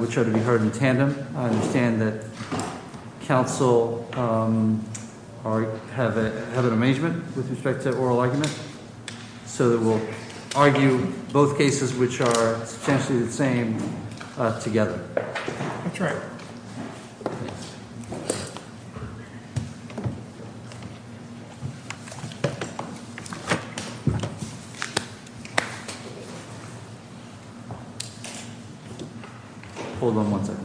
which are to be heard in tandem. I understand that counsel have an amazement with respect to oral argument, so that we'll argue both cases which are substantially the same together. That's right. Hold on one second.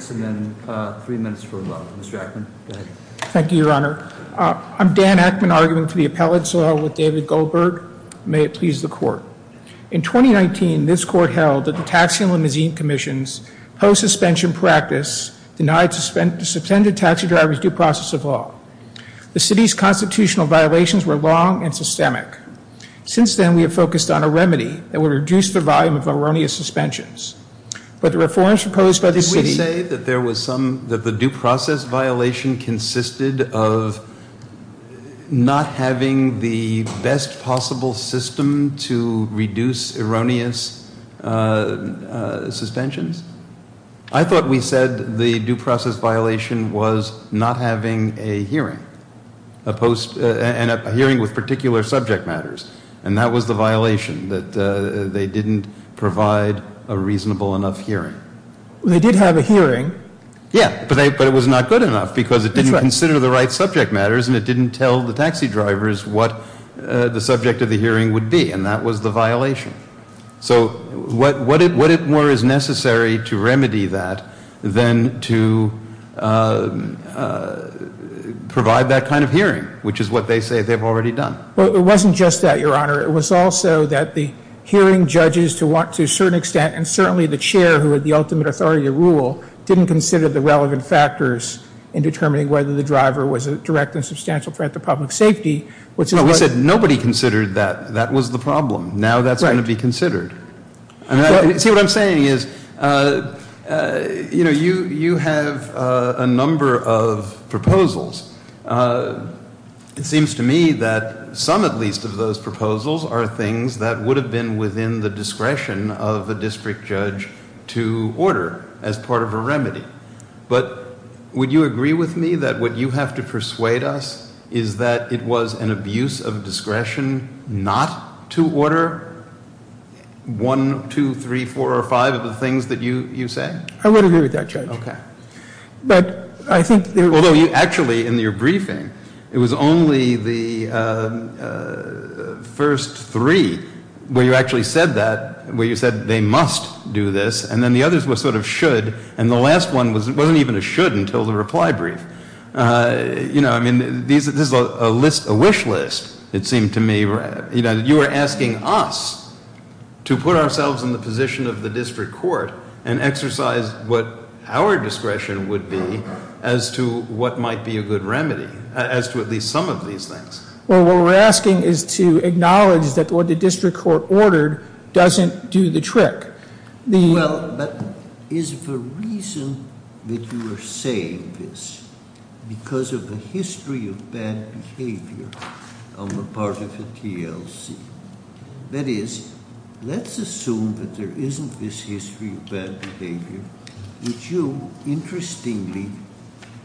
Thank you, Your Honor. I'm Dan Ackman, arguing for the appellate, so I'll with David Goldberg. May it please the court. In 2019, this court held that the Taxi and Limousine Commission's post-suspension practice denied suspended taxi drivers due process of law. The city's constitutional violations were long and systemic. Since then, we have focused on a remedy that would reduce the volume of erroneous suspensions. But the reforms proposed by the city... Did we say that there was some, that the due process violation consisted of not having the best possible system to reduce erroneous suspensions? I thought we said the due process violation was not having a hearing, a hearing with particular subject matters, and that was the violation, that they didn't provide a reasonable enough hearing. They did have a hearing. Yeah, but it was not good enough because it didn't consider the right subject matters and it didn't tell the taxi drivers what the subject of the hearing would be, and that was the violation. So what more is necessary to remedy that than to provide that kind of hearing, which is what they say they've already done? Well, it wasn't just that, Your Honor. It was also that the hearing judges, to a certain extent, and certainly the chair, who had the ultimate authority to rule, didn't consider the relevant factors in determining whether the driver was a direct and substantial threat to public safety, which is what... See, what I'm saying is, you know, you have a number of proposals. It seems to me that some, at least, of those proposals are things that would have been within the discretion of a district judge to order as part of a remedy. But would you agree with me that what you have to persuade us is that it was an abuse of discretion not to order one, two, three, four, or five of the things that you say? I would agree with that, Judge. Okay. But I think... Although you actually, in your briefing, it was only the first three where you actually said that, where you said they must do this, and then the others were sort of should, and the last one wasn't even a should until the reply brief. You know, I mean, this is a wish list, it seemed to me. You are asking us to put ourselves in the position of the district court and exercise what our discretion would be as to what might be a good remedy, as to at least some of these things. Well, what we're asking is to acknowledge that what the district court ordered doesn't do the trick. Well, but is the reason that you are saying this because of the history of bad behavior on the part of the TLC? That is, let's assume that there isn't this history of bad behavior. Would you, interestingly,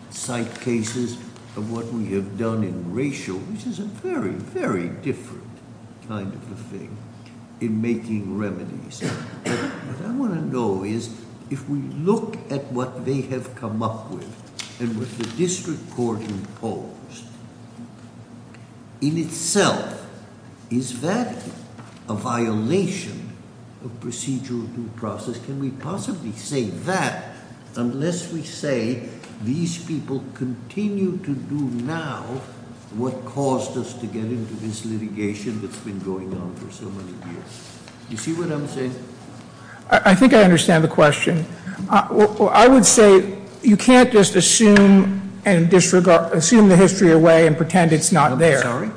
cite cases of what we have done in racial, which is a very, very different kind of a thing, in making remedies. What I want to know is, if we look at what they have come up with and what the district court imposed, in itself, is that a violation of procedural due process? Can we possibly say that unless we say these people continue to do now what caused us to get into this litigation that's been going on for so many years? You see what I'm saying? I think I understand the question. I would say you can't just assume and disregard, assume the history away and pretend it's not there. I'm sorry.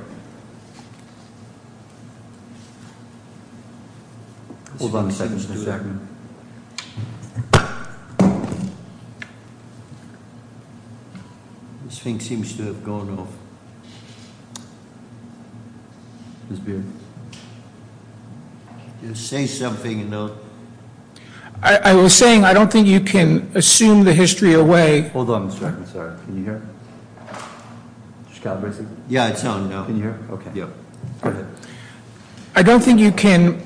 Hold on a second. This thing seems to have gone off. Just say something. I was saying I don't think you can assume the history away. Hold on a second. Sorry. Can you hear? Yeah, it's on now. Can you hear? Okay. Go ahead. I don't think you can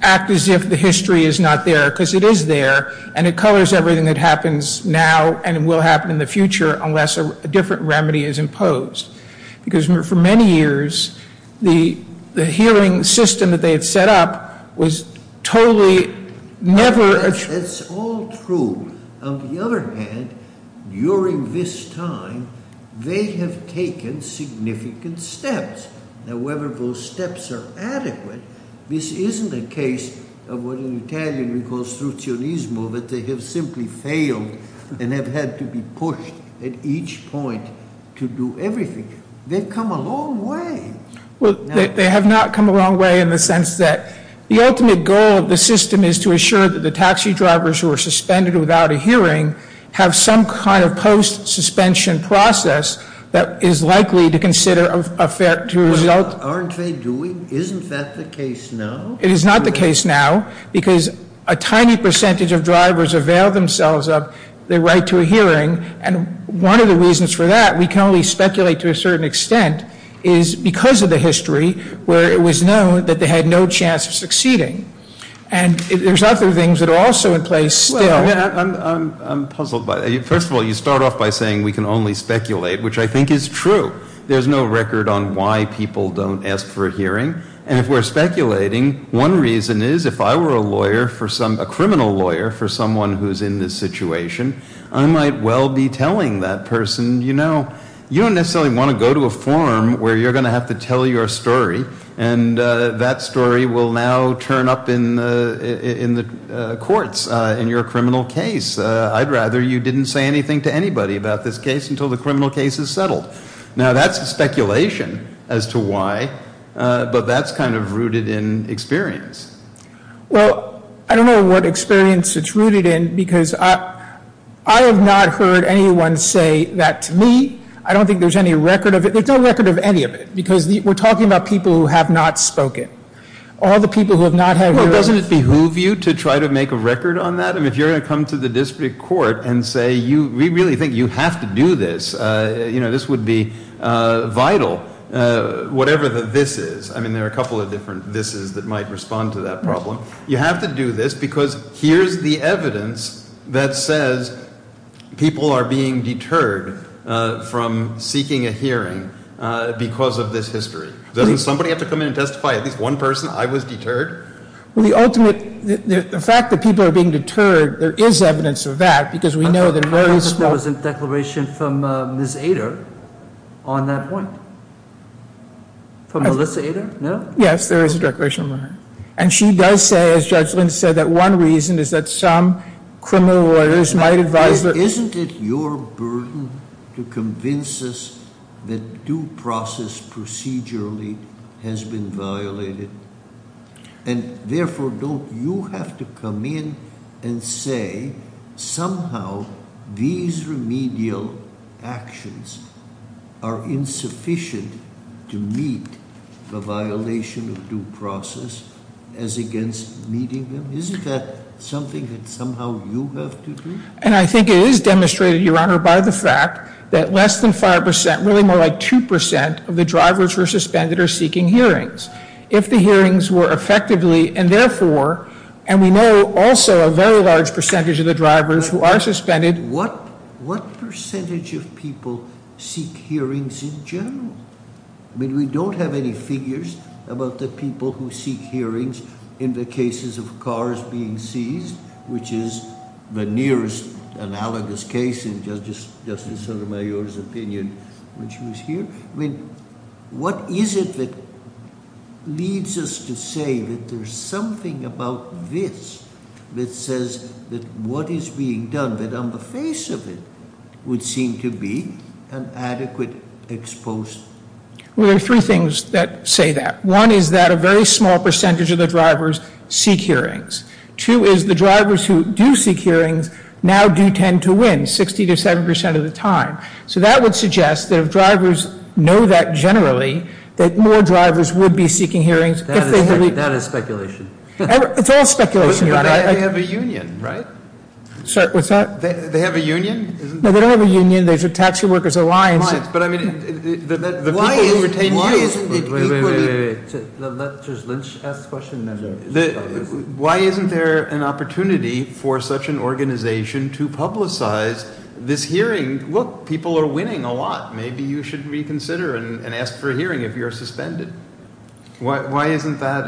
act as if the history is not there, because it is there, and it colors everything that happens now and will happen in the future unless a different remedy is imposed. Because for many years, the healing system that they had set up was totally never- That's all true. On the other hand, during this time, they have taken significant steps. Now, whether those steps are adequate, this isn't a case of what in Italian we call struzionismo, that they have simply failed and have had to be pushed at each point to do everything. They've come a long way. Well, they have not come a long way in the sense that the ultimate goal of the system is to assure that the taxi drivers who are suspended without a hearing have some kind of post-suspension process that is likely to consider a fair- Aren't they doing? Isn't that the case now? It is not the case now, because a tiny percentage of drivers avail themselves of their right to a hearing, and one of the reasons for that, we can only speculate to a certain extent, is because of the history where it was known that they had no chance of succeeding. And there's other things that are also in place still- I'm puzzled by that. First of all, you start off by saying we can only speculate, which I think is true. There's no record on why people don't ask for a hearing, and if we're speculating, one reason is if I were a lawyer, a criminal lawyer for someone who's in this situation, I might well be telling that person, you know, you don't necessarily want to go to a forum where you're going to have to tell your story, and that story will now turn up in the courts in your criminal case. I'd rather you didn't say anything to anybody about this case until the criminal case is settled. Now, that's speculation as to why, but that's kind of rooted in experience. Well, I don't know what experience it's rooted in, because I have not heard anyone say that to me. I don't think there's any record of it. Because we're talking about people who have not spoken. All the people who have not had- Well, doesn't it behoove you to try to make a record on that? I mean, if you're going to come to the district court and say, we really think you have to do this, you know, this would be vital, whatever the this is. I mean, there are a couple of different thises that might respond to that problem. You have to do this because here's the evidence that says people are being deterred from seeking a hearing because of this history. Doesn't somebody have to come in and testify? At least one person? I was deterred? Well, the fact that people are being deterred, there is evidence of that, because we know that there is- I thought there was a declaration from Ms. Ader on that point. From Melissa Ader? No? Yes, there is a declaration from her. And she does say, as Judge Lins said, that one reason is that some criminal lawyers might advise that- due process procedurally has been violated. And therefore, don't you have to come in and say, somehow these remedial actions are insufficient to meet the violation of due process as against meeting them? Isn't that something that somehow you have to do? And I think it is demonstrated, Your Honor, by the fact that less than 5%, really more like 2% of the drivers who are suspended are seeking hearings. If the hearings were effectively, and therefore- and we know also a very large percentage of the drivers who are suspended- What percentage of people seek hearings in general? I mean, we don't have any figures about the people who seek hearings in the cases of cars being seized, which is the nearest analogous case in Justice Sotomayor's opinion when she was here. I mean, what is it that leads us to say that there is something about this that says that what is being done, but on the face of it, would seem to be an adequate exposure? Well, there are three things that say that. One is that a very small percentage of the drivers seek hearings. Two is the drivers who do seek hearings now do tend to win 60% to 70% of the time. So that would suggest that if drivers know that generally, that more drivers would be seeking hearings- That is speculation. It's all speculation, Your Honor. But they have a union, right? What's that? They have a union? No, they don't have a union. There's a Taxpayer Workers Alliance. But I mean, the people who retain- Why isn't it equally- Wait, wait, wait. Let Judge Lynch ask the question. Why isn't there an opportunity for such an organization to publicize this hearing? Look, people are winning a lot. Maybe you should reconsider and ask for a hearing if you're suspended. Why isn't that-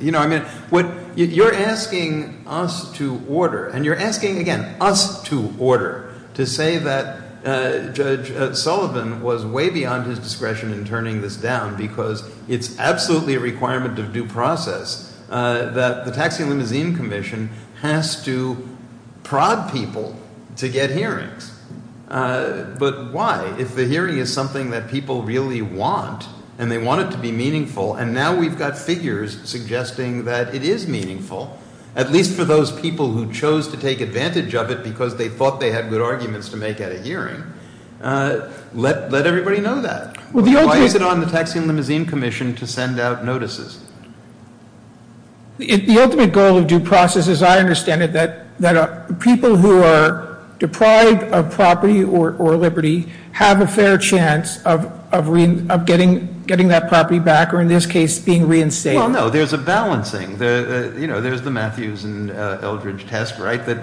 You know, I mean, you're asking us to order. And you're asking, again, us to order to say that Judge Sullivan was way beyond his discretion in turning this down because it's absolutely a requirement of due process that the Taxi and Limousine Commission has to prod people to get hearings. But why? If the hearing is something that people really want, and they want it to be meaningful, and now we've got figures suggesting that it is meaningful, at least for those people who chose to take advantage of it because they thought they had good arguments to make at a hearing, let everybody know that. Why is it on the Taxi and Limousine Commission to send out notices? The ultimate goal of due process, as I understand it, that people who are deprived of property or liberty have a fair chance of getting that property back or, in this case, being reinstated. Well, no, there's a balancing. You know, there's the Matthews and Eldridge test, right, the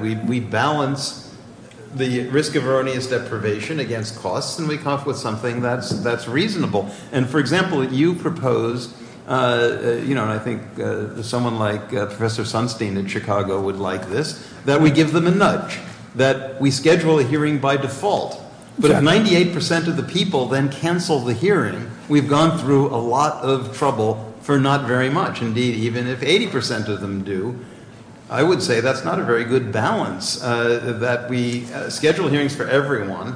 risk of erroneous deprivation against costs, and we come up with something that's reasonable. And, for example, you propose, you know, and I think someone like Professor Sunstein in Chicago would like this, that we give them a nudge, that we schedule a hearing by default. But if 98 percent of the people then cancel the hearing, we've gone through a lot of trouble for not very much. Indeed, even if 80 percent of them do, I would say that's not a very good balance, that we schedule hearings for everyone,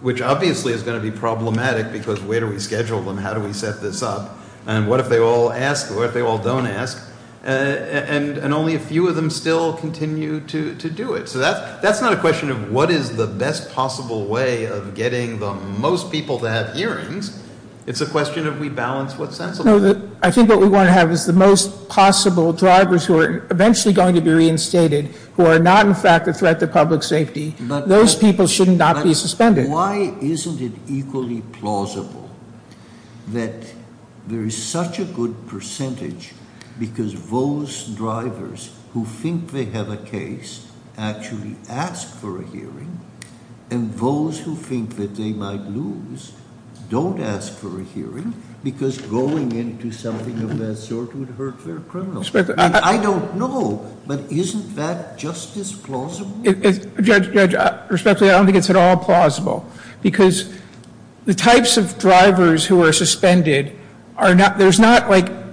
which obviously is going to be problematic because where do we schedule them? How do we set this up? And what if they all ask? What if they all don't ask? And only a few of them still continue to do it. So that's not a question of what is the best possible way of getting the most people to have hearings. It's a question of we balance what's sensible. No, I think what we want to have is the most possible drivers who are eventually going to be reinstated, who are not, in fact, a threat to public safety. Those people should not be suspended. But why isn't it equally plausible that there is such a good percentage because those drivers who think they have a case actually ask for a hearing, and those who think that they might lose don't ask for a hearing because going into something of that sort would hurt their criminal record? I don't know. But isn't that just as plausible? Judge, respectfully, I don't think it's at all plausible because the types of drivers who are suspended, there's not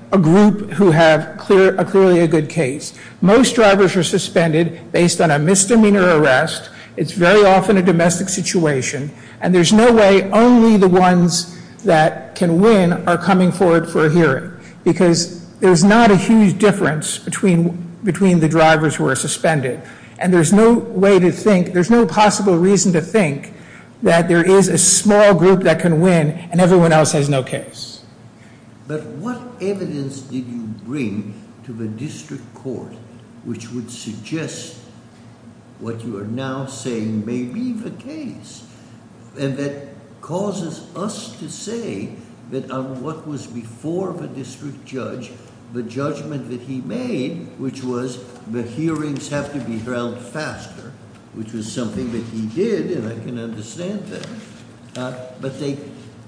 a group who have clearly a good case. Most drivers are suspended based on a misdemeanor arrest. It's very often a domestic situation. And there's no way only the ones that can win are coming forward for a hearing because there's not a huge difference between the drivers who are suspended. And there's no way to think, there's no possible reason to think that there is a small group that can win and everyone else has no case. But what evidence did you bring to the district court which would suggest what you are now saying may be the case and that causes us to say that on what was before the district judge, the judgment that he made, which was the hearings have to be held faster, which was something that he did and I can understand that, but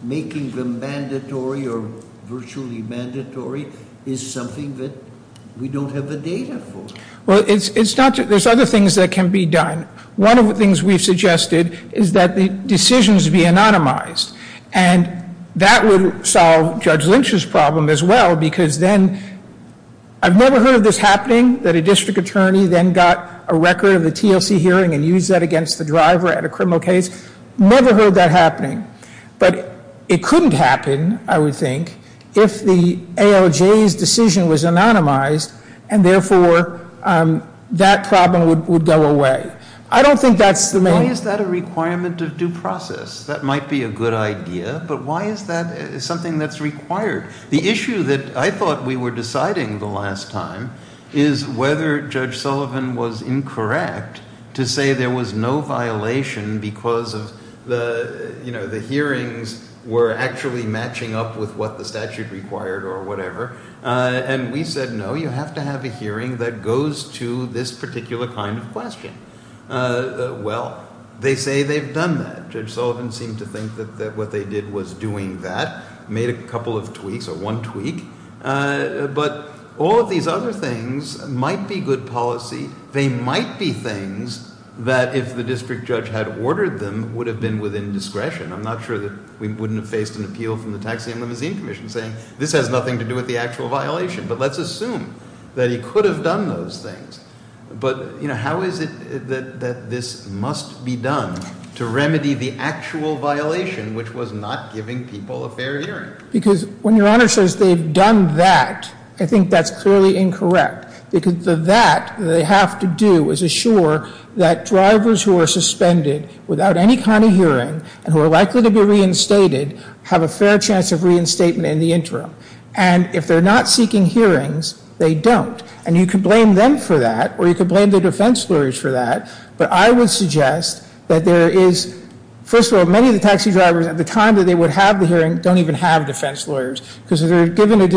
making them mandatory or virtually mandatory is something that we don't have the data for. Well, there's other things that can be done. One of the things we've suggested is that the decisions be anonymized and that would solve Judge Lynch's problem as well because then, I've never heard of this happening, that a district attorney then got a record of the TLC hearing and used that against the driver at a criminal case. Never heard that happening. But it couldn't happen, I would think, if the ALJ's decision was anonymized and therefore that problem would go away. I don't think that's the main... Why is that a requirement of due process? That might be a good idea, but why is that something that's required? The issue that I thought we were deciding the last time is whether Judge Sullivan was incorrect to say there was no violation because the hearings were actually matching up with what the statute required or whatever. And we said, no, you have to have a hearing that goes to this particular kind of question. Well, they say they've done that. Judge Sullivan seemed to think that what they did was doing that, made a couple of tweaks or one tweak. But all of these other things might be good policy. They might be things that if the district judge had ordered them would have been within discretion. I'm not sure that we wouldn't have faced an appeal from the Taxi and Limousine Commission saying, this has nothing to do with the actual violation. But let's assume that he could have done those things. But how is it that this must be done to remedy the actual violation which was not giving people a fair hearing? Because when Your Honor says they've done that, I think that's clearly incorrect. Because of that, what they have to do is assure that drivers who are suspended without any kind of hearing and who are likely to be reinstated have a fair chance of reinstatement in the interim. And if they're not seeking hearings, they don't. And you can blame them for that or you can blame the defense lawyers for that. But I would suggest that there is, first of all, many of the taxi drivers at the time that they would have the hearing don't even have defense lawyers because if they're given a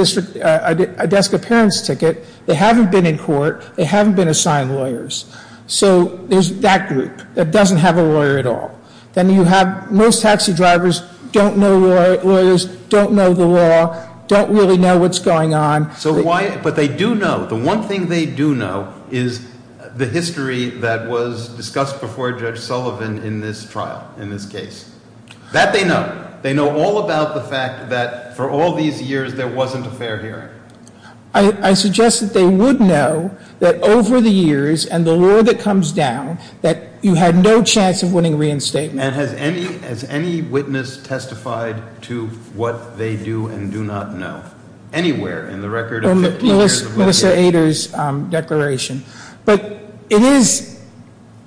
desk appearance ticket, they haven't been in court, they haven't been assigned lawyers. So there's that group that doesn't have a lawyer at all. Then you have most taxi drivers don't know lawyers, don't know the law, don't really know what's going on. But they do know, the one thing they do know is the history that was discussed before Judge Sullivan in this trial, in this case. That they know. They know all about the fact that for all these years there wasn't a fair hearing. I suggest that they would know that over the years and the law that comes down, that you had no chance of winning reinstatement. And has any witness testified to what they do and do not know? Anywhere in the record of 15 years of litigation? In Melissa Ader's declaration. But it is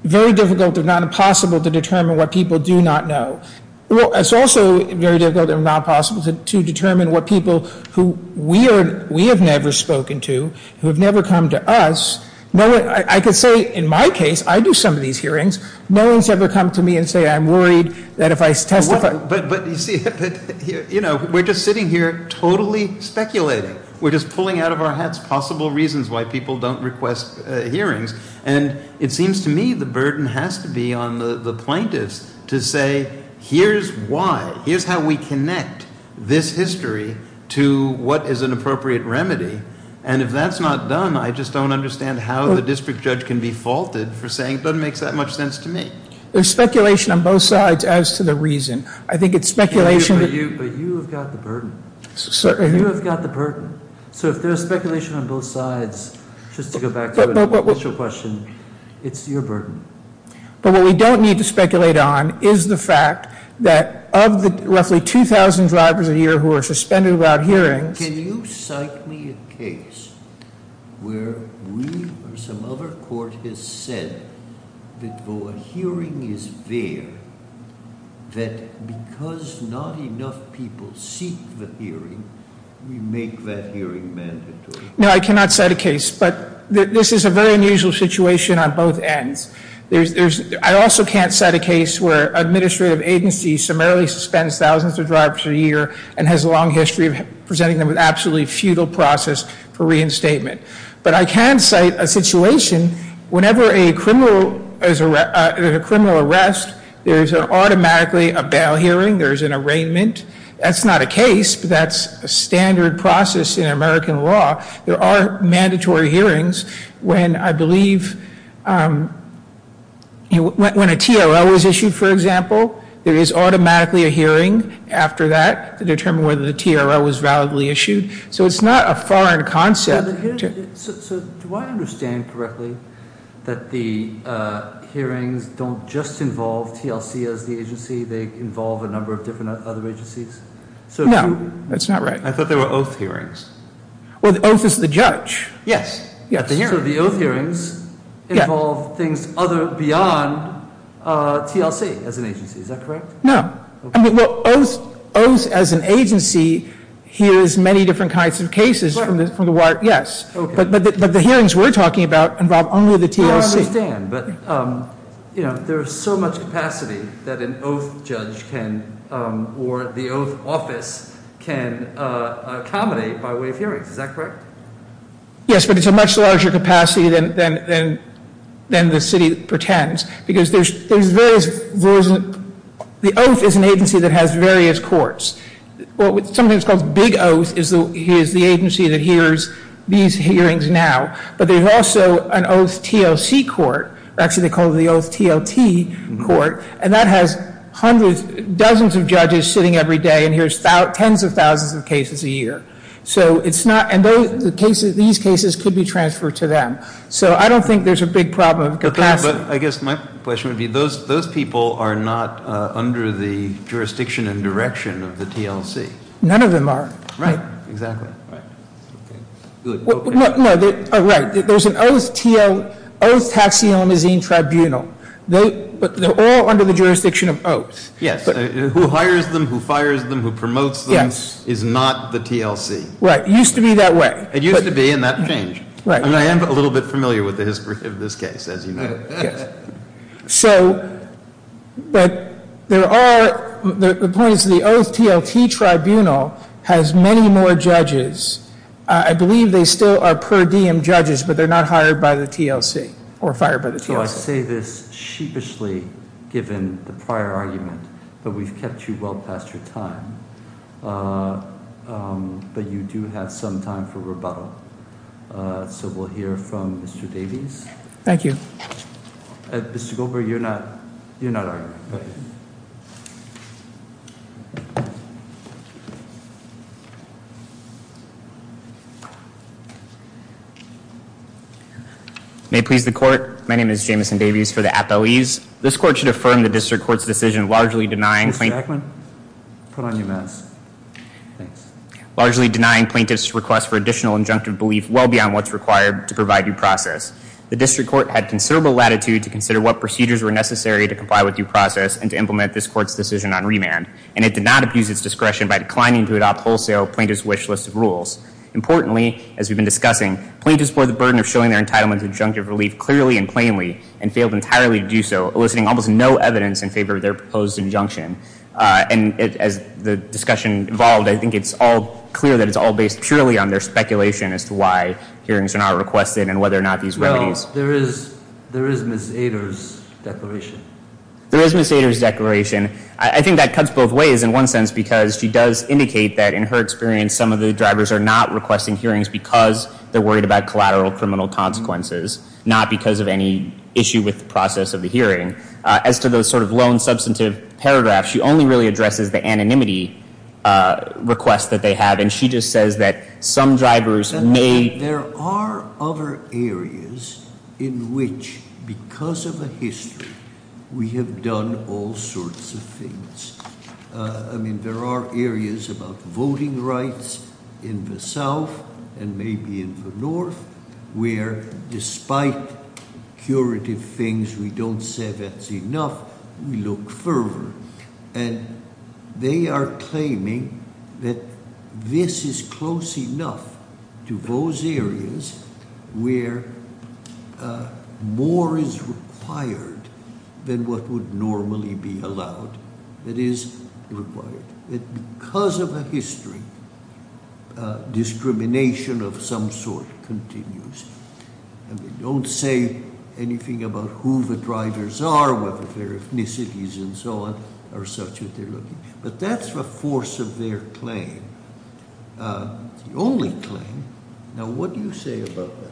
very difficult, if not impossible, to determine what people do not know. It's also very difficult, if not possible, to determine what people who we have never spoken to, who have never come to us. I can say in my case, I do some of these hearings, no one's ever come to me and said I'm worried that if I testify. But you see, we're just sitting here totally speculating. We're just pulling out of our hats possible reasons why people don't request hearings. And it seems to me the burden has to be on the plaintiffs to say here's why. Here's how we connect this history to what is an appropriate remedy. And if that's not done, I just don't understand how the district judge can be faulted for saying it doesn't make that much sense to me. There's speculation on both sides as to the reason. I think it's speculation. But you have got the burden. Sorry? You have got the burden. So if there's speculation on both sides, just to go back to your question, it's your burden. But what we don't need to speculate on is the fact that of the roughly 2,000 drivers a year who are suspended without hearings- Can you cite me a case where we or some other court has said that though a hearing is there, that because not enough people seek the hearing, we make that hearing mandatory? No, I cannot cite a case. But this is a very unusual situation on both ends. I also can't cite a case where an administrative agency summarily suspends thousands of drivers a year and has a long history of presenting them with absolutely futile process for reinstatement. But I can cite a situation whenever a criminal arrest, there's automatically a bail hearing. There's an arraignment. That's not a case, but that's a standard process in American law. There are mandatory hearings when, I believe, when a TRL was issued, for example, there is automatically a hearing after that to determine whether the TRL was validly issued. So it's not a foreign concept. So do I understand correctly that the hearings don't just involve TLC as the agency? They involve a number of different other agencies? No, that's not right. I thought they were oath hearings. Well, the oath is the judge. Yes. So the oath hearings involve things beyond TLC as an agency. Is that correct? No. I mean, well, oath as an agency hears many different kinds of cases from the wire. Yes. But the hearings we're talking about involve only the TLC. No, I understand. But, you know, there's so much capacity that an oath judge can or the oath office can accommodate by way of hearings. Is that correct? Yes, but it's a much larger capacity than the city pretends. The oath is an agency that has various courts. Something that's called big oath is the agency that hears these hearings now. But there's also an oath TLC court, or actually they call it the oath TLT court, and that has dozens of judges sitting every day and hears tens of thousands of cases a year. And these cases could be transferred to them. So I don't think there's a big problem of capacity. But I guess my question would be, those people are not under the jurisdiction and direction of the TLC. None of them are. Right. Exactly. No, right. There's an oath taxi limousine tribunal. They're all under the jurisdiction of oaths. Yes. Who hires them, who fires them, who promotes them is not the TLC. Right. It used to be that way. It used to be, and that changed. I am a little bit familiar with the history of this case, as you know. So, but there are, the point is the oath TLT tribunal has many more judges. I believe they still are per diem judges, but they're not hired by the TLC or fired by the TLC. So I say this sheepishly, given the prior argument, that we've kept you well past your time. But you do have some time for rebuttal. So we'll hear from Mr. Davies. Thank you. Mr. Goldberg, you're not, you're not arguing. May please the court. My name is Jameson Davies for the Apoes. This court should affirm the district court's decision largely denying plaintiff's request for additional injunctive belief well beyond what's required to provide due process. The district court had considerable latitude to consider what procedures were necessary to comply with due process and to implement this court's decision on remand. And it did not abuse its discretion by declining to adopt wholesale plaintiff's wish list of rules. Importantly, as we've been discussing, plaintiffs bore the burden of showing their entitlement to injunctive relief clearly and plainly and failed entirely to do so, eliciting almost no evidence in favor of their proposed injunction. And as the discussion evolved, I think it's all clear that it's all based purely on their speculation as to why hearings are not requested and whether or not these remedies. Well, there is Ms. Ader's declaration. There is Ms. Ader's declaration. I think that cuts both ways in one sense because she does indicate that in her experience, some of the drivers are not requesting hearings because they're worried about collateral criminal consequences, not because of any issue with the process of the hearing. As to the sort of lone substantive paragraph, she only really addresses the anonymity request that they have, and she just says that some drivers may... There are other areas in which, because of the history, we have done all sorts of things. I mean, there are areas about voting rights in the South and maybe in the North where despite curative things, we don't say that's enough. We look further, and they are claiming that this is close enough to those areas where more is required than what would normally be allowed. That is required. Because of the history, discrimination of some sort continues, and they don't say anything about who the drivers are, whether their ethnicities and so on are such that they're looking. But that's the force of their claim. It's the only claim. Now, what do you say about that?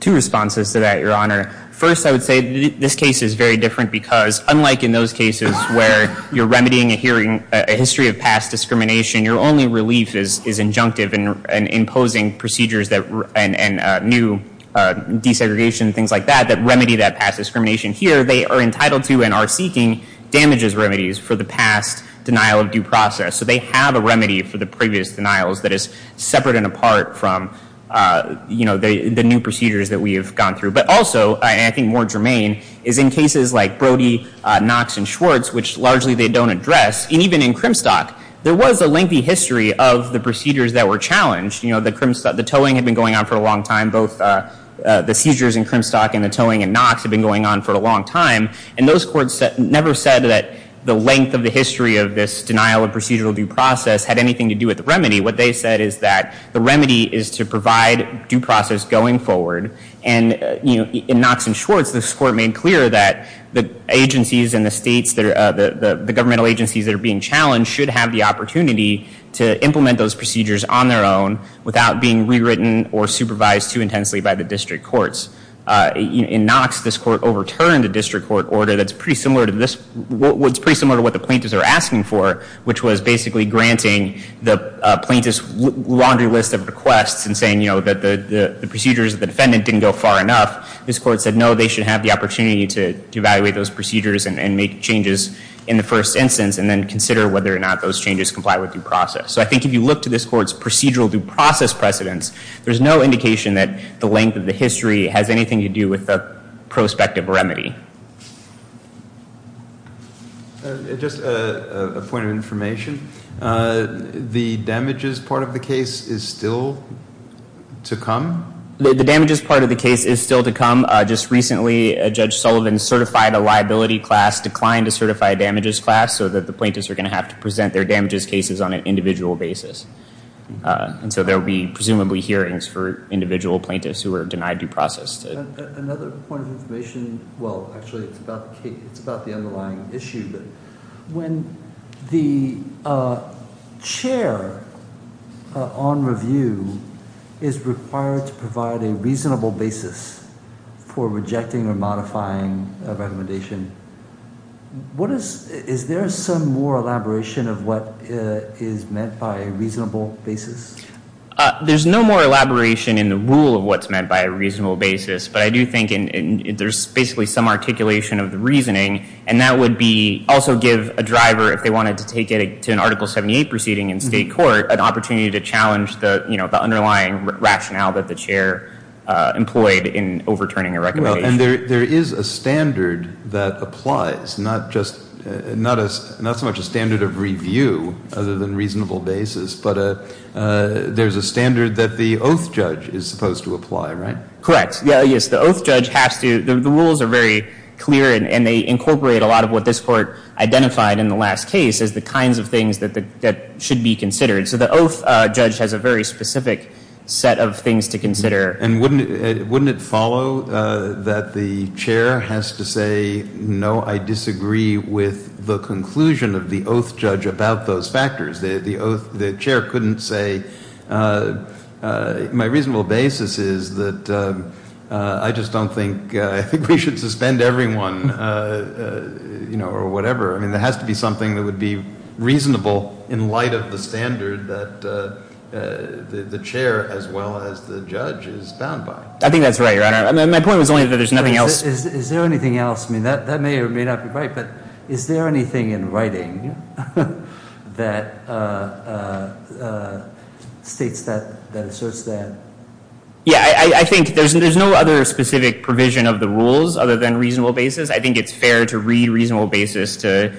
Two responses to that, Your Honor. First, I would say this case is very different because unlike in those cases where you're remedying a history of past discrimination, your only relief is injunctive and imposing procedures and new desegregation, things like that, that remedy that past discrimination. Here, they are entitled to and are seeking damages remedies for the past denial of due process. So they have a remedy for the previous denials that is separate and apart from the new procedures that we have gone through. But also, and I think more germane, is in cases like Brody, Knox, and Schwartz, which largely they don't address, and even in Crimstock, there was a lengthy history of the procedures that were challenged. The towing had been going on for a long time. Both the seizures in Crimstock and the towing in Knox had been going on for a long time. And those courts never said that the length of the history of this denial of procedural due process had anything to do with the remedy. What they said is that the remedy is to provide due process going forward. And in Knox and Schwartz, this court made clear that the agencies in the states, the governmental agencies that are being challenged, should have the opportunity to implement those procedures on their own without being rewritten or supervised too intensely by the district courts. In Knox, this court overturned a district court order that's pretty similar to this, it's pretty similar to what the plaintiffs are asking for, which was basically granting the plaintiff's laundry list of requests and saying that the procedures of the defendant didn't go far enough. This court said no, they should have the opportunity to evaluate those procedures and make changes in the first instance and then consider whether or not those changes comply with due process. So I think if you look to this court's procedural due process precedents, there's no indication that the length of the history has anything to do with the prospective remedy. Just a point of information. The damages part of the case is still to come? The damages part of the case is still to come. Just recently, Judge Sullivan certified a liability class, declined to certify a damages class, so that the plaintiffs are going to have to present their damages cases on an individual basis. And so there will be presumably hearings for individual plaintiffs who are denied due process. Another point of information. Well, actually, it's about the underlying issue. When the chair on review is required to provide a reasonable basis for rejecting or modifying a recommendation, is there some more elaboration of what is meant by a reasonable basis? There's no more elaboration in the rule of what's meant by a reasonable basis, but I do think there's basically some articulation of the reasoning, and that would also give a driver, if they wanted to take it to an Article 78 proceeding in state court, an opportunity to challenge the underlying rationale that the chair employed in overturning a recommendation. And there is a standard that applies, not so much a standard of review other than reasonable basis, but there's a standard that the oath judge is supposed to apply, right? Correct. Yes, the oath judge has to. The rules are very clear, and they incorporate a lot of what this court identified in the last case as the kinds of things that should be considered. So the oath judge has a very specific set of things to consider. And wouldn't it follow that the chair has to say, no, I disagree with the conclusion of the oath judge about those factors? The chair couldn't say, my reasonable basis is that I just don't think we should suspend everyone or whatever. I mean, there has to be something that would be reasonable in light of the standard that the chair as well as the judge is bound by. I think that's right, Your Honor. My point was only that there's nothing else. Is there anything else? I mean, that may or may not be right, but is there anything in writing that states that, that asserts that? Yeah, I think there's no other specific provision of the rules other than reasonable basis. I think it's fair to read reasonable basis to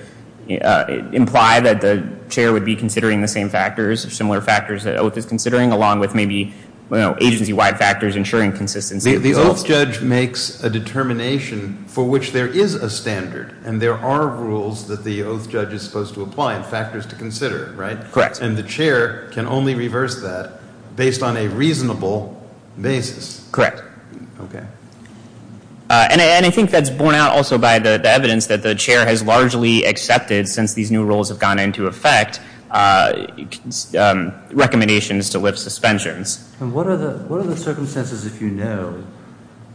imply that the chair would be considering the same factors, similar factors that oath is considering, along with maybe agency-wide factors ensuring consistency. The oath judge makes a determination for which there is a standard, and there are rules that the oath judge is supposed to apply and factors to consider, right? Correct. And the chair can only reverse that based on a reasonable basis. Correct. Okay. And I think that's borne out also by the evidence that the chair has largely accepted, since these new rules have gone into effect, recommendations to lift suspensions. And what are the circumstances, if you know,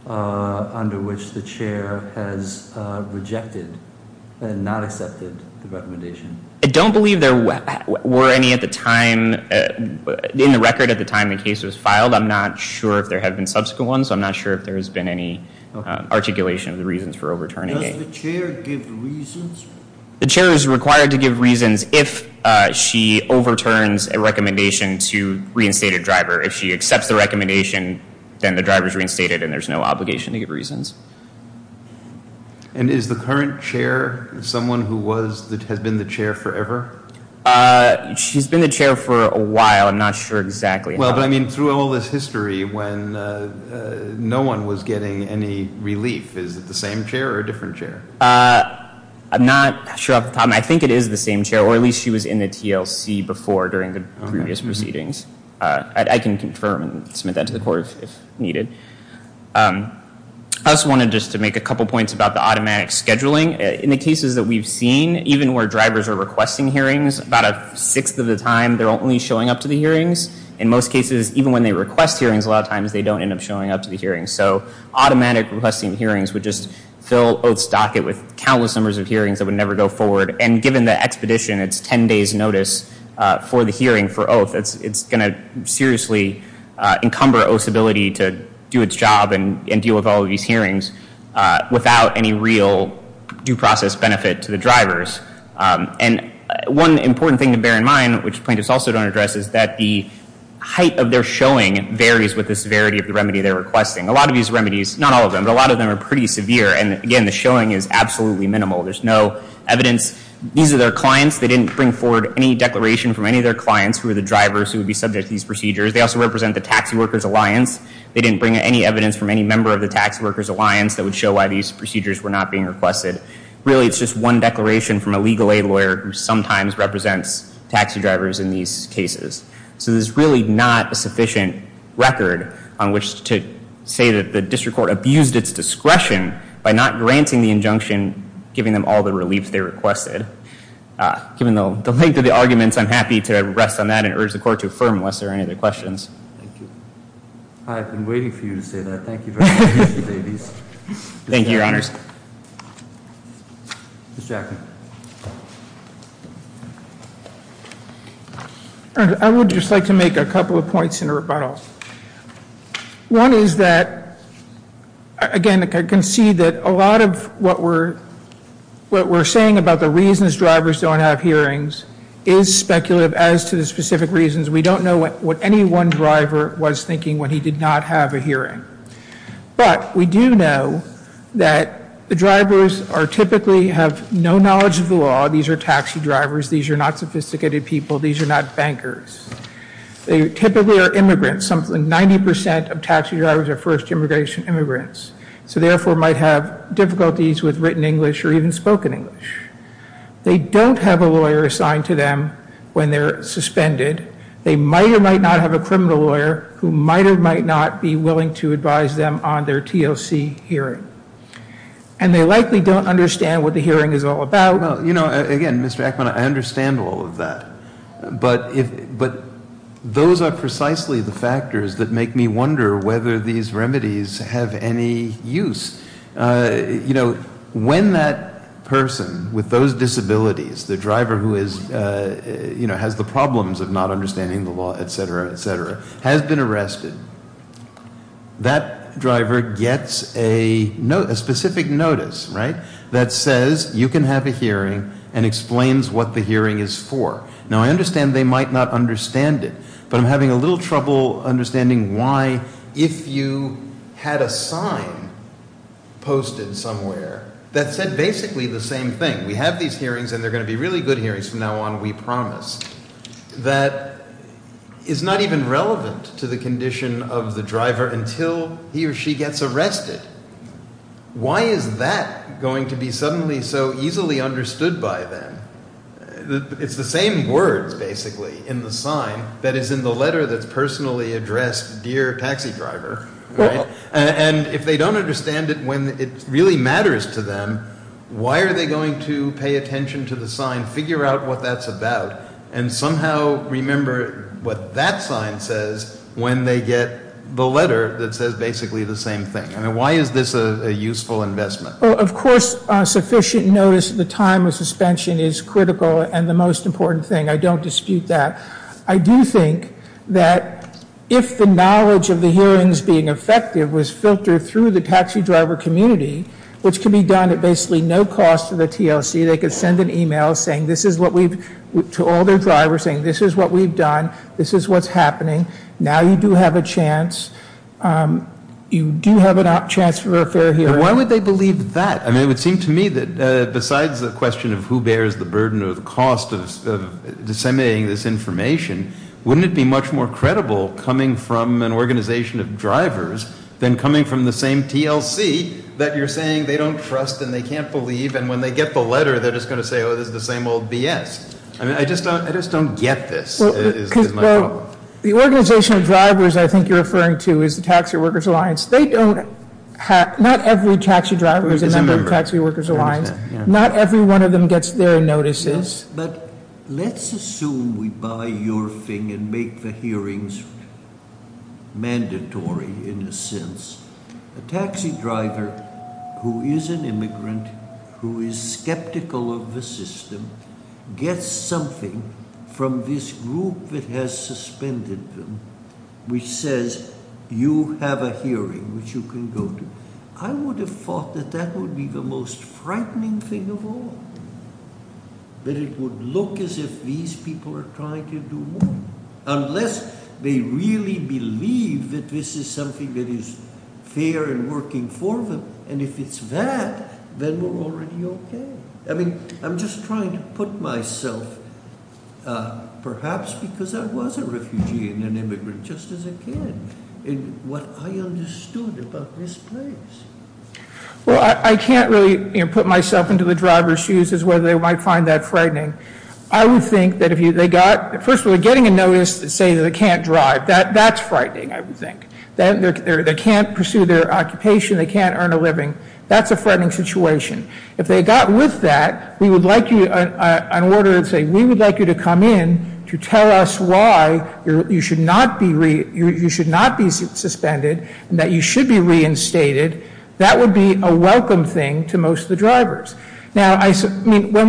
under which the chair has rejected and not accepted the recommendation? I don't believe there were any at the time, in the record at the time the case was filed. I'm not sure if there have been subsequent ones. I'm not sure if there has been any articulation of the reasons for overturning it. Does the chair give reasons? The chair is required to give reasons if she overturns a recommendation to reinstate a driver. If she accepts the recommendation, then the driver is reinstated and there's no obligation to give reasons. And is the current chair someone who has been the chair forever? She's been the chair for a while. I'm not sure exactly how long. Well, but I mean, through all this history, when no one was getting any relief, is it the same chair or a different chair? I'm not sure off the top of my head. I think it is the same chair, or at least she was in the TLC before during the previous proceedings. I can confirm and submit that to the court if needed. I also wanted just to make a couple points about the automatic scheduling. In the cases that we've seen, even where drivers are requesting hearings, about a sixth of the time they're only showing up to the hearings. In most cases, even when they request hearings, a lot of times they don't end up showing up to the hearings. So automatic requesting hearings would just fill Oath's docket with countless numbers of hearings that would never go forward. And given the expedition, it's 10 days' notice for the hearing for Oath, it's going to seriously encumber Oath's ability to do its job and deal with all of these hearings without any real due process benefit to the drivers. And one important thing to bear in mind, which plaintiffs also don't address, is that the height of their showing varies with the severity of the remedy they're requesting. A lot of these remedies, not all of them, but a lot of them are pretty severe. And again, the showing is absolutely minimal. There's no evidence. These are their clients. They didn't bring forward any declaration from any of their clients who were the drivers who would be subject to these procedures. They also represent the Taxi Workers Alliance. They didn't bring any evidence from any member of the Taxi Workers Alliance that would show why these procedures were not being requested. Really, it's just one declaration from a legal aid lawyer who sometimes represents taxi drivers in these cases. So there's really not a sufficient record on which to say that the District Court abused its discretion by not granting the injunction giving them all the relief they requested. Given the length of the arguments, I'm happy to rest on that and urge the Court to affirm unless there are any other questions. Thank you. I've been waiting for you to say that. Thank you very much, Mr. Davies. Thank you, Your Honors. I would just like to make a couple of points in rebuttal. One is that, again, I can see that a lot of what we're saying about the reasons drivers don't have hearings is speculative as to the specific reasons. We don't know what any one driver was thinking when he did not have a hearing. But we do know that the drivers typically have no knowledge of the law. These are taxi drivers. These are not sophisticated people. These are not bankers. They typically are immigrants. 90% of taxi drivers are first-generation immigrants, so therefore might have difficulties with written English or even spoken English. They don't have a lawyer assigned to them when they're suspended. They might or might not have a criminal lawyer who might or might not be willing to advise them on their TLC hearing. And they likely don't understand what the hearing is all about. Again, Mr. Ackman, I understand all of that. But those are precisely the factors that make me wonder whether these remedies have any use. When that person with those disabilities, the driver who has the problems of not understanding the law, et cetera, et cetera, has been arrested, that driver gets a specific notice that says you can have a hearing and explains what the hearing is for. Now, I understand they might not understand it. But I'm having a little trouble understanding why if you had a sign posted somewhere that said basically the same thing, we have these hearings and they're going to be really good hearings from now on, we promise, that is not even relevant to the condition of the driver until he or she gets arrested. Why is that going to be suddenly so easily understood by them? It's the same words, basically, in the sign that is in the letter that's personally addressed, dear taxi driver, right? And if they don't understand it when it really matters to them, why are they going to pay attention to the sign, figure out what that's about, and somehow remember what that sign says when they get the letter that says basically the same thing? I mean, why is this a useful investment? Of course, sufficient notice at the time of suspension is critical and the most important thing. I don't dispute that. I do think that if the knowledge of the hearings being effective was filtered through the taxi driver community, which can be done at basically no cost to the TLC, they could send an e-mail to all their drivers saying this is what we've done, this is what's happening, now you do have a chance, you do have a chance for a fair hearing. Why would they believe that? I mean, it would seem to me that besides the question of who bears the burden or the cost of disseminating this information, wouldn't it be much more credible coming from an organization of drivers than coming from the same TLC that you're saying they don't trust and they can't believe and when they get the letter they're just going to say, oh, this is the same old BS. I mean, I just don't get this is my problem. The organization of drivers I think you're referring to is the Taxi Workers Alliance. They don't have, not every taxi driver is a member of the Taxi Workers Alliance. Not every one of them gets their notices. Yes, but let's assume we buy your thing and make the hearings mandatory in a sense. A taxi driver who is an immigrant, who is skeptical of the system, gets something from this group that has suspended them, which says you have a hearing which you can go to. I would have thought that that would be the most frightening thing of all. That it would look as if these people are trying to do more. Unless they really believe that this is something that is fair and working for them. And if it's that, then we're already okay. I mean, I'm just trying to put myself, perhaps because I was a refugee and an immigrant just as a kid, in what I understood about this place. Well, I can't really put myself into the driver's shoes as whether they might find that frightening. I would think that if they got, first of all, getting a notice that says they can't drive, that's frightening, I would think. They can't pursue their occupation. They can't earn a living. That's a frightening situation. If they got with that, we would like you to come in to tell us why you should not be suspended and that you should be reinstated. Now, when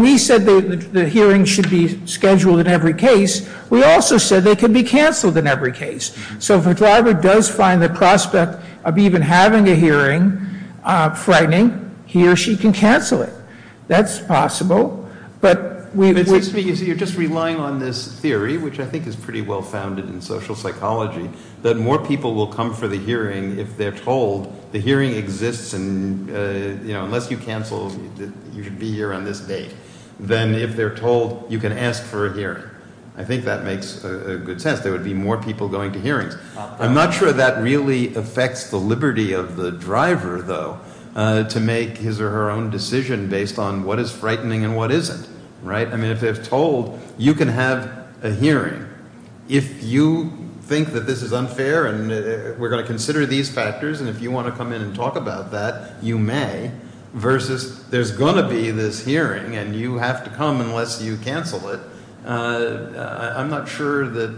we said the hearing should be scheduled in every case, we also said they could be canceled in every case. So if a driver does find the prospect of even having a hearing frightening, he or she can cancel it. That's possible. It seems to me you're just relying on this theory, which I think is pretty well-founded in social psychology, that more people will come for the hearing if they're told the hearing exists, and unless you cancel, you should be here on this date, than if they're told you can ask for a hearing. I think that makes good sense. There would be more people going to hearings. I'm not sure that really affects the liberty of the driver, though, to make his or her own decision based on what is frightening and what isn't, right? I mean, if they're told you can have a hearing, if you think that this is unfair and we're going to consider these factors, and if you want to come in and talk about that, you may, versus there's going to be this hearing and you have to come unless you cancel it. I'm not sure that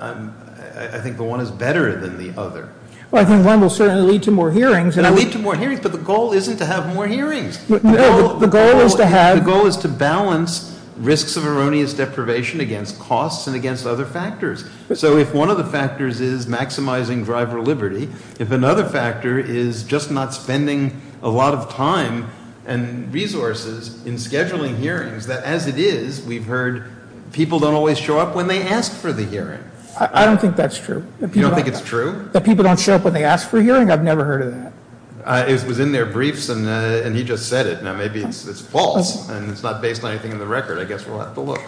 I'm – I think the one is better than the other. Well, I think one will certainly lead to more hearings. It will lead to more hearings, but the goal isn't to have more hearings. No, the goal is to have – The goal is to balance risks of erroneous deprivation against costs and against other factors. So if one of the factors is maximizing driver liberty, if another factor is just not spending a lot of time and resources in scheduling hearings, then as it is, we've heard people don't always show up when they ask for the hearing. I don't think that's true. You don't think it's true? That people don't show up when they ask for a hearing? I've never heard of that. It was in their briefs, and he just said it. Now, maybe it's false, and it's not based on anything in the record. I guess we'll have to look.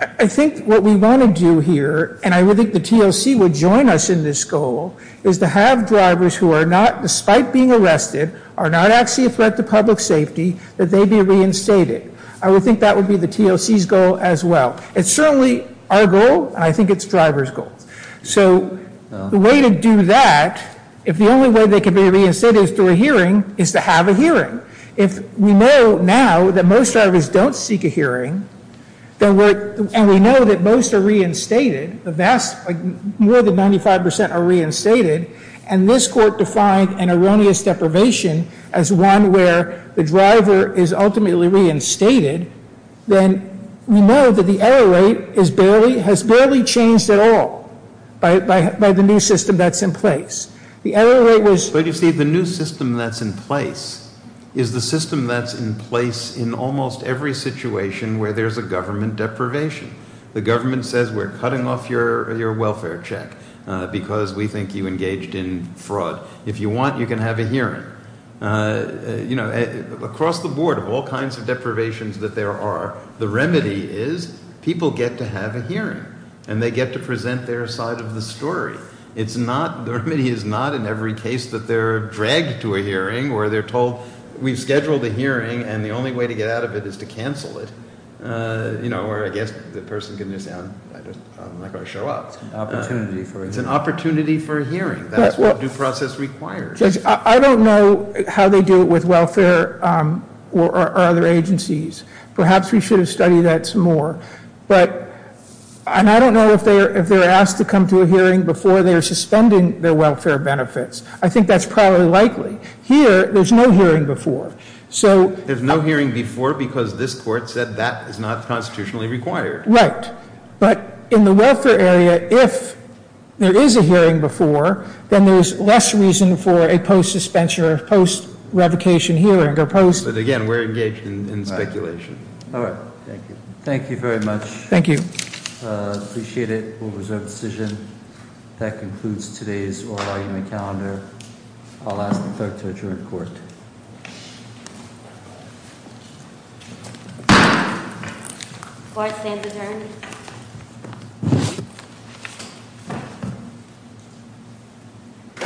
I think what we want to do here, and I would think the TLC would join us in this goal, is to have drivers who are not, despite being arrested, are not actually a threat to public safety, that they be reinstated. I would think that would be the TLC's goal as well. It's certainly our goal, and I think it's drivers' goal. So the way to do that, if the only way they can be reinstated is through a hearing, is to have a hearing. If we know now that most drivers don't seek a hearing, and we know that most are reinstated, more than 95% are reinstated, and this court defined an erroneous deprivation as one where the driver is ultimately reinstated, then we know that the error rate has barely changed at all by the new system that's in place. But you see, the new system that's in place is the system that's in place in almost every situation where there's a government deprivation. The government says, we're cutting off your welfare check because we think you engaged in fraud. If you want, you can have a hearing. Across the board, of all kinds of deprivations that there are, the remedy is people get to have a hearing, and they get to present their side of the story. The remedy is not in every case that they're dragged to a hearing where they're told, we've scheduled a hearing, and the only way to get out of it is to cancel it, where I guess the person can just say, I'm not going to show up. It's an opportunity for a hearing. It's an opportunity for a hearing. That's what due process requires. Judge, I don't know how they do it with welfare or other agencies. Perhaps we should have studied that some more. I don't know if they're asked to come to a hearing before they're suspending their welfare benefits. I think that's probably likely. Here, there's no hearing before. There's no hearing before because this court said that is not constitutionally required. Right. But in the welfare area, if there is a hearing before, then there's less reason for a post-suspension or post-revocation hearing. Again, we're engaged in speculation. All right. Thank you. Thank you very much. Thank you. Appreciate it. We'll reserve the decision. That concludes today's oral argument calendar. I'll ask the clerk to adjourn the court. The court stands adjourned.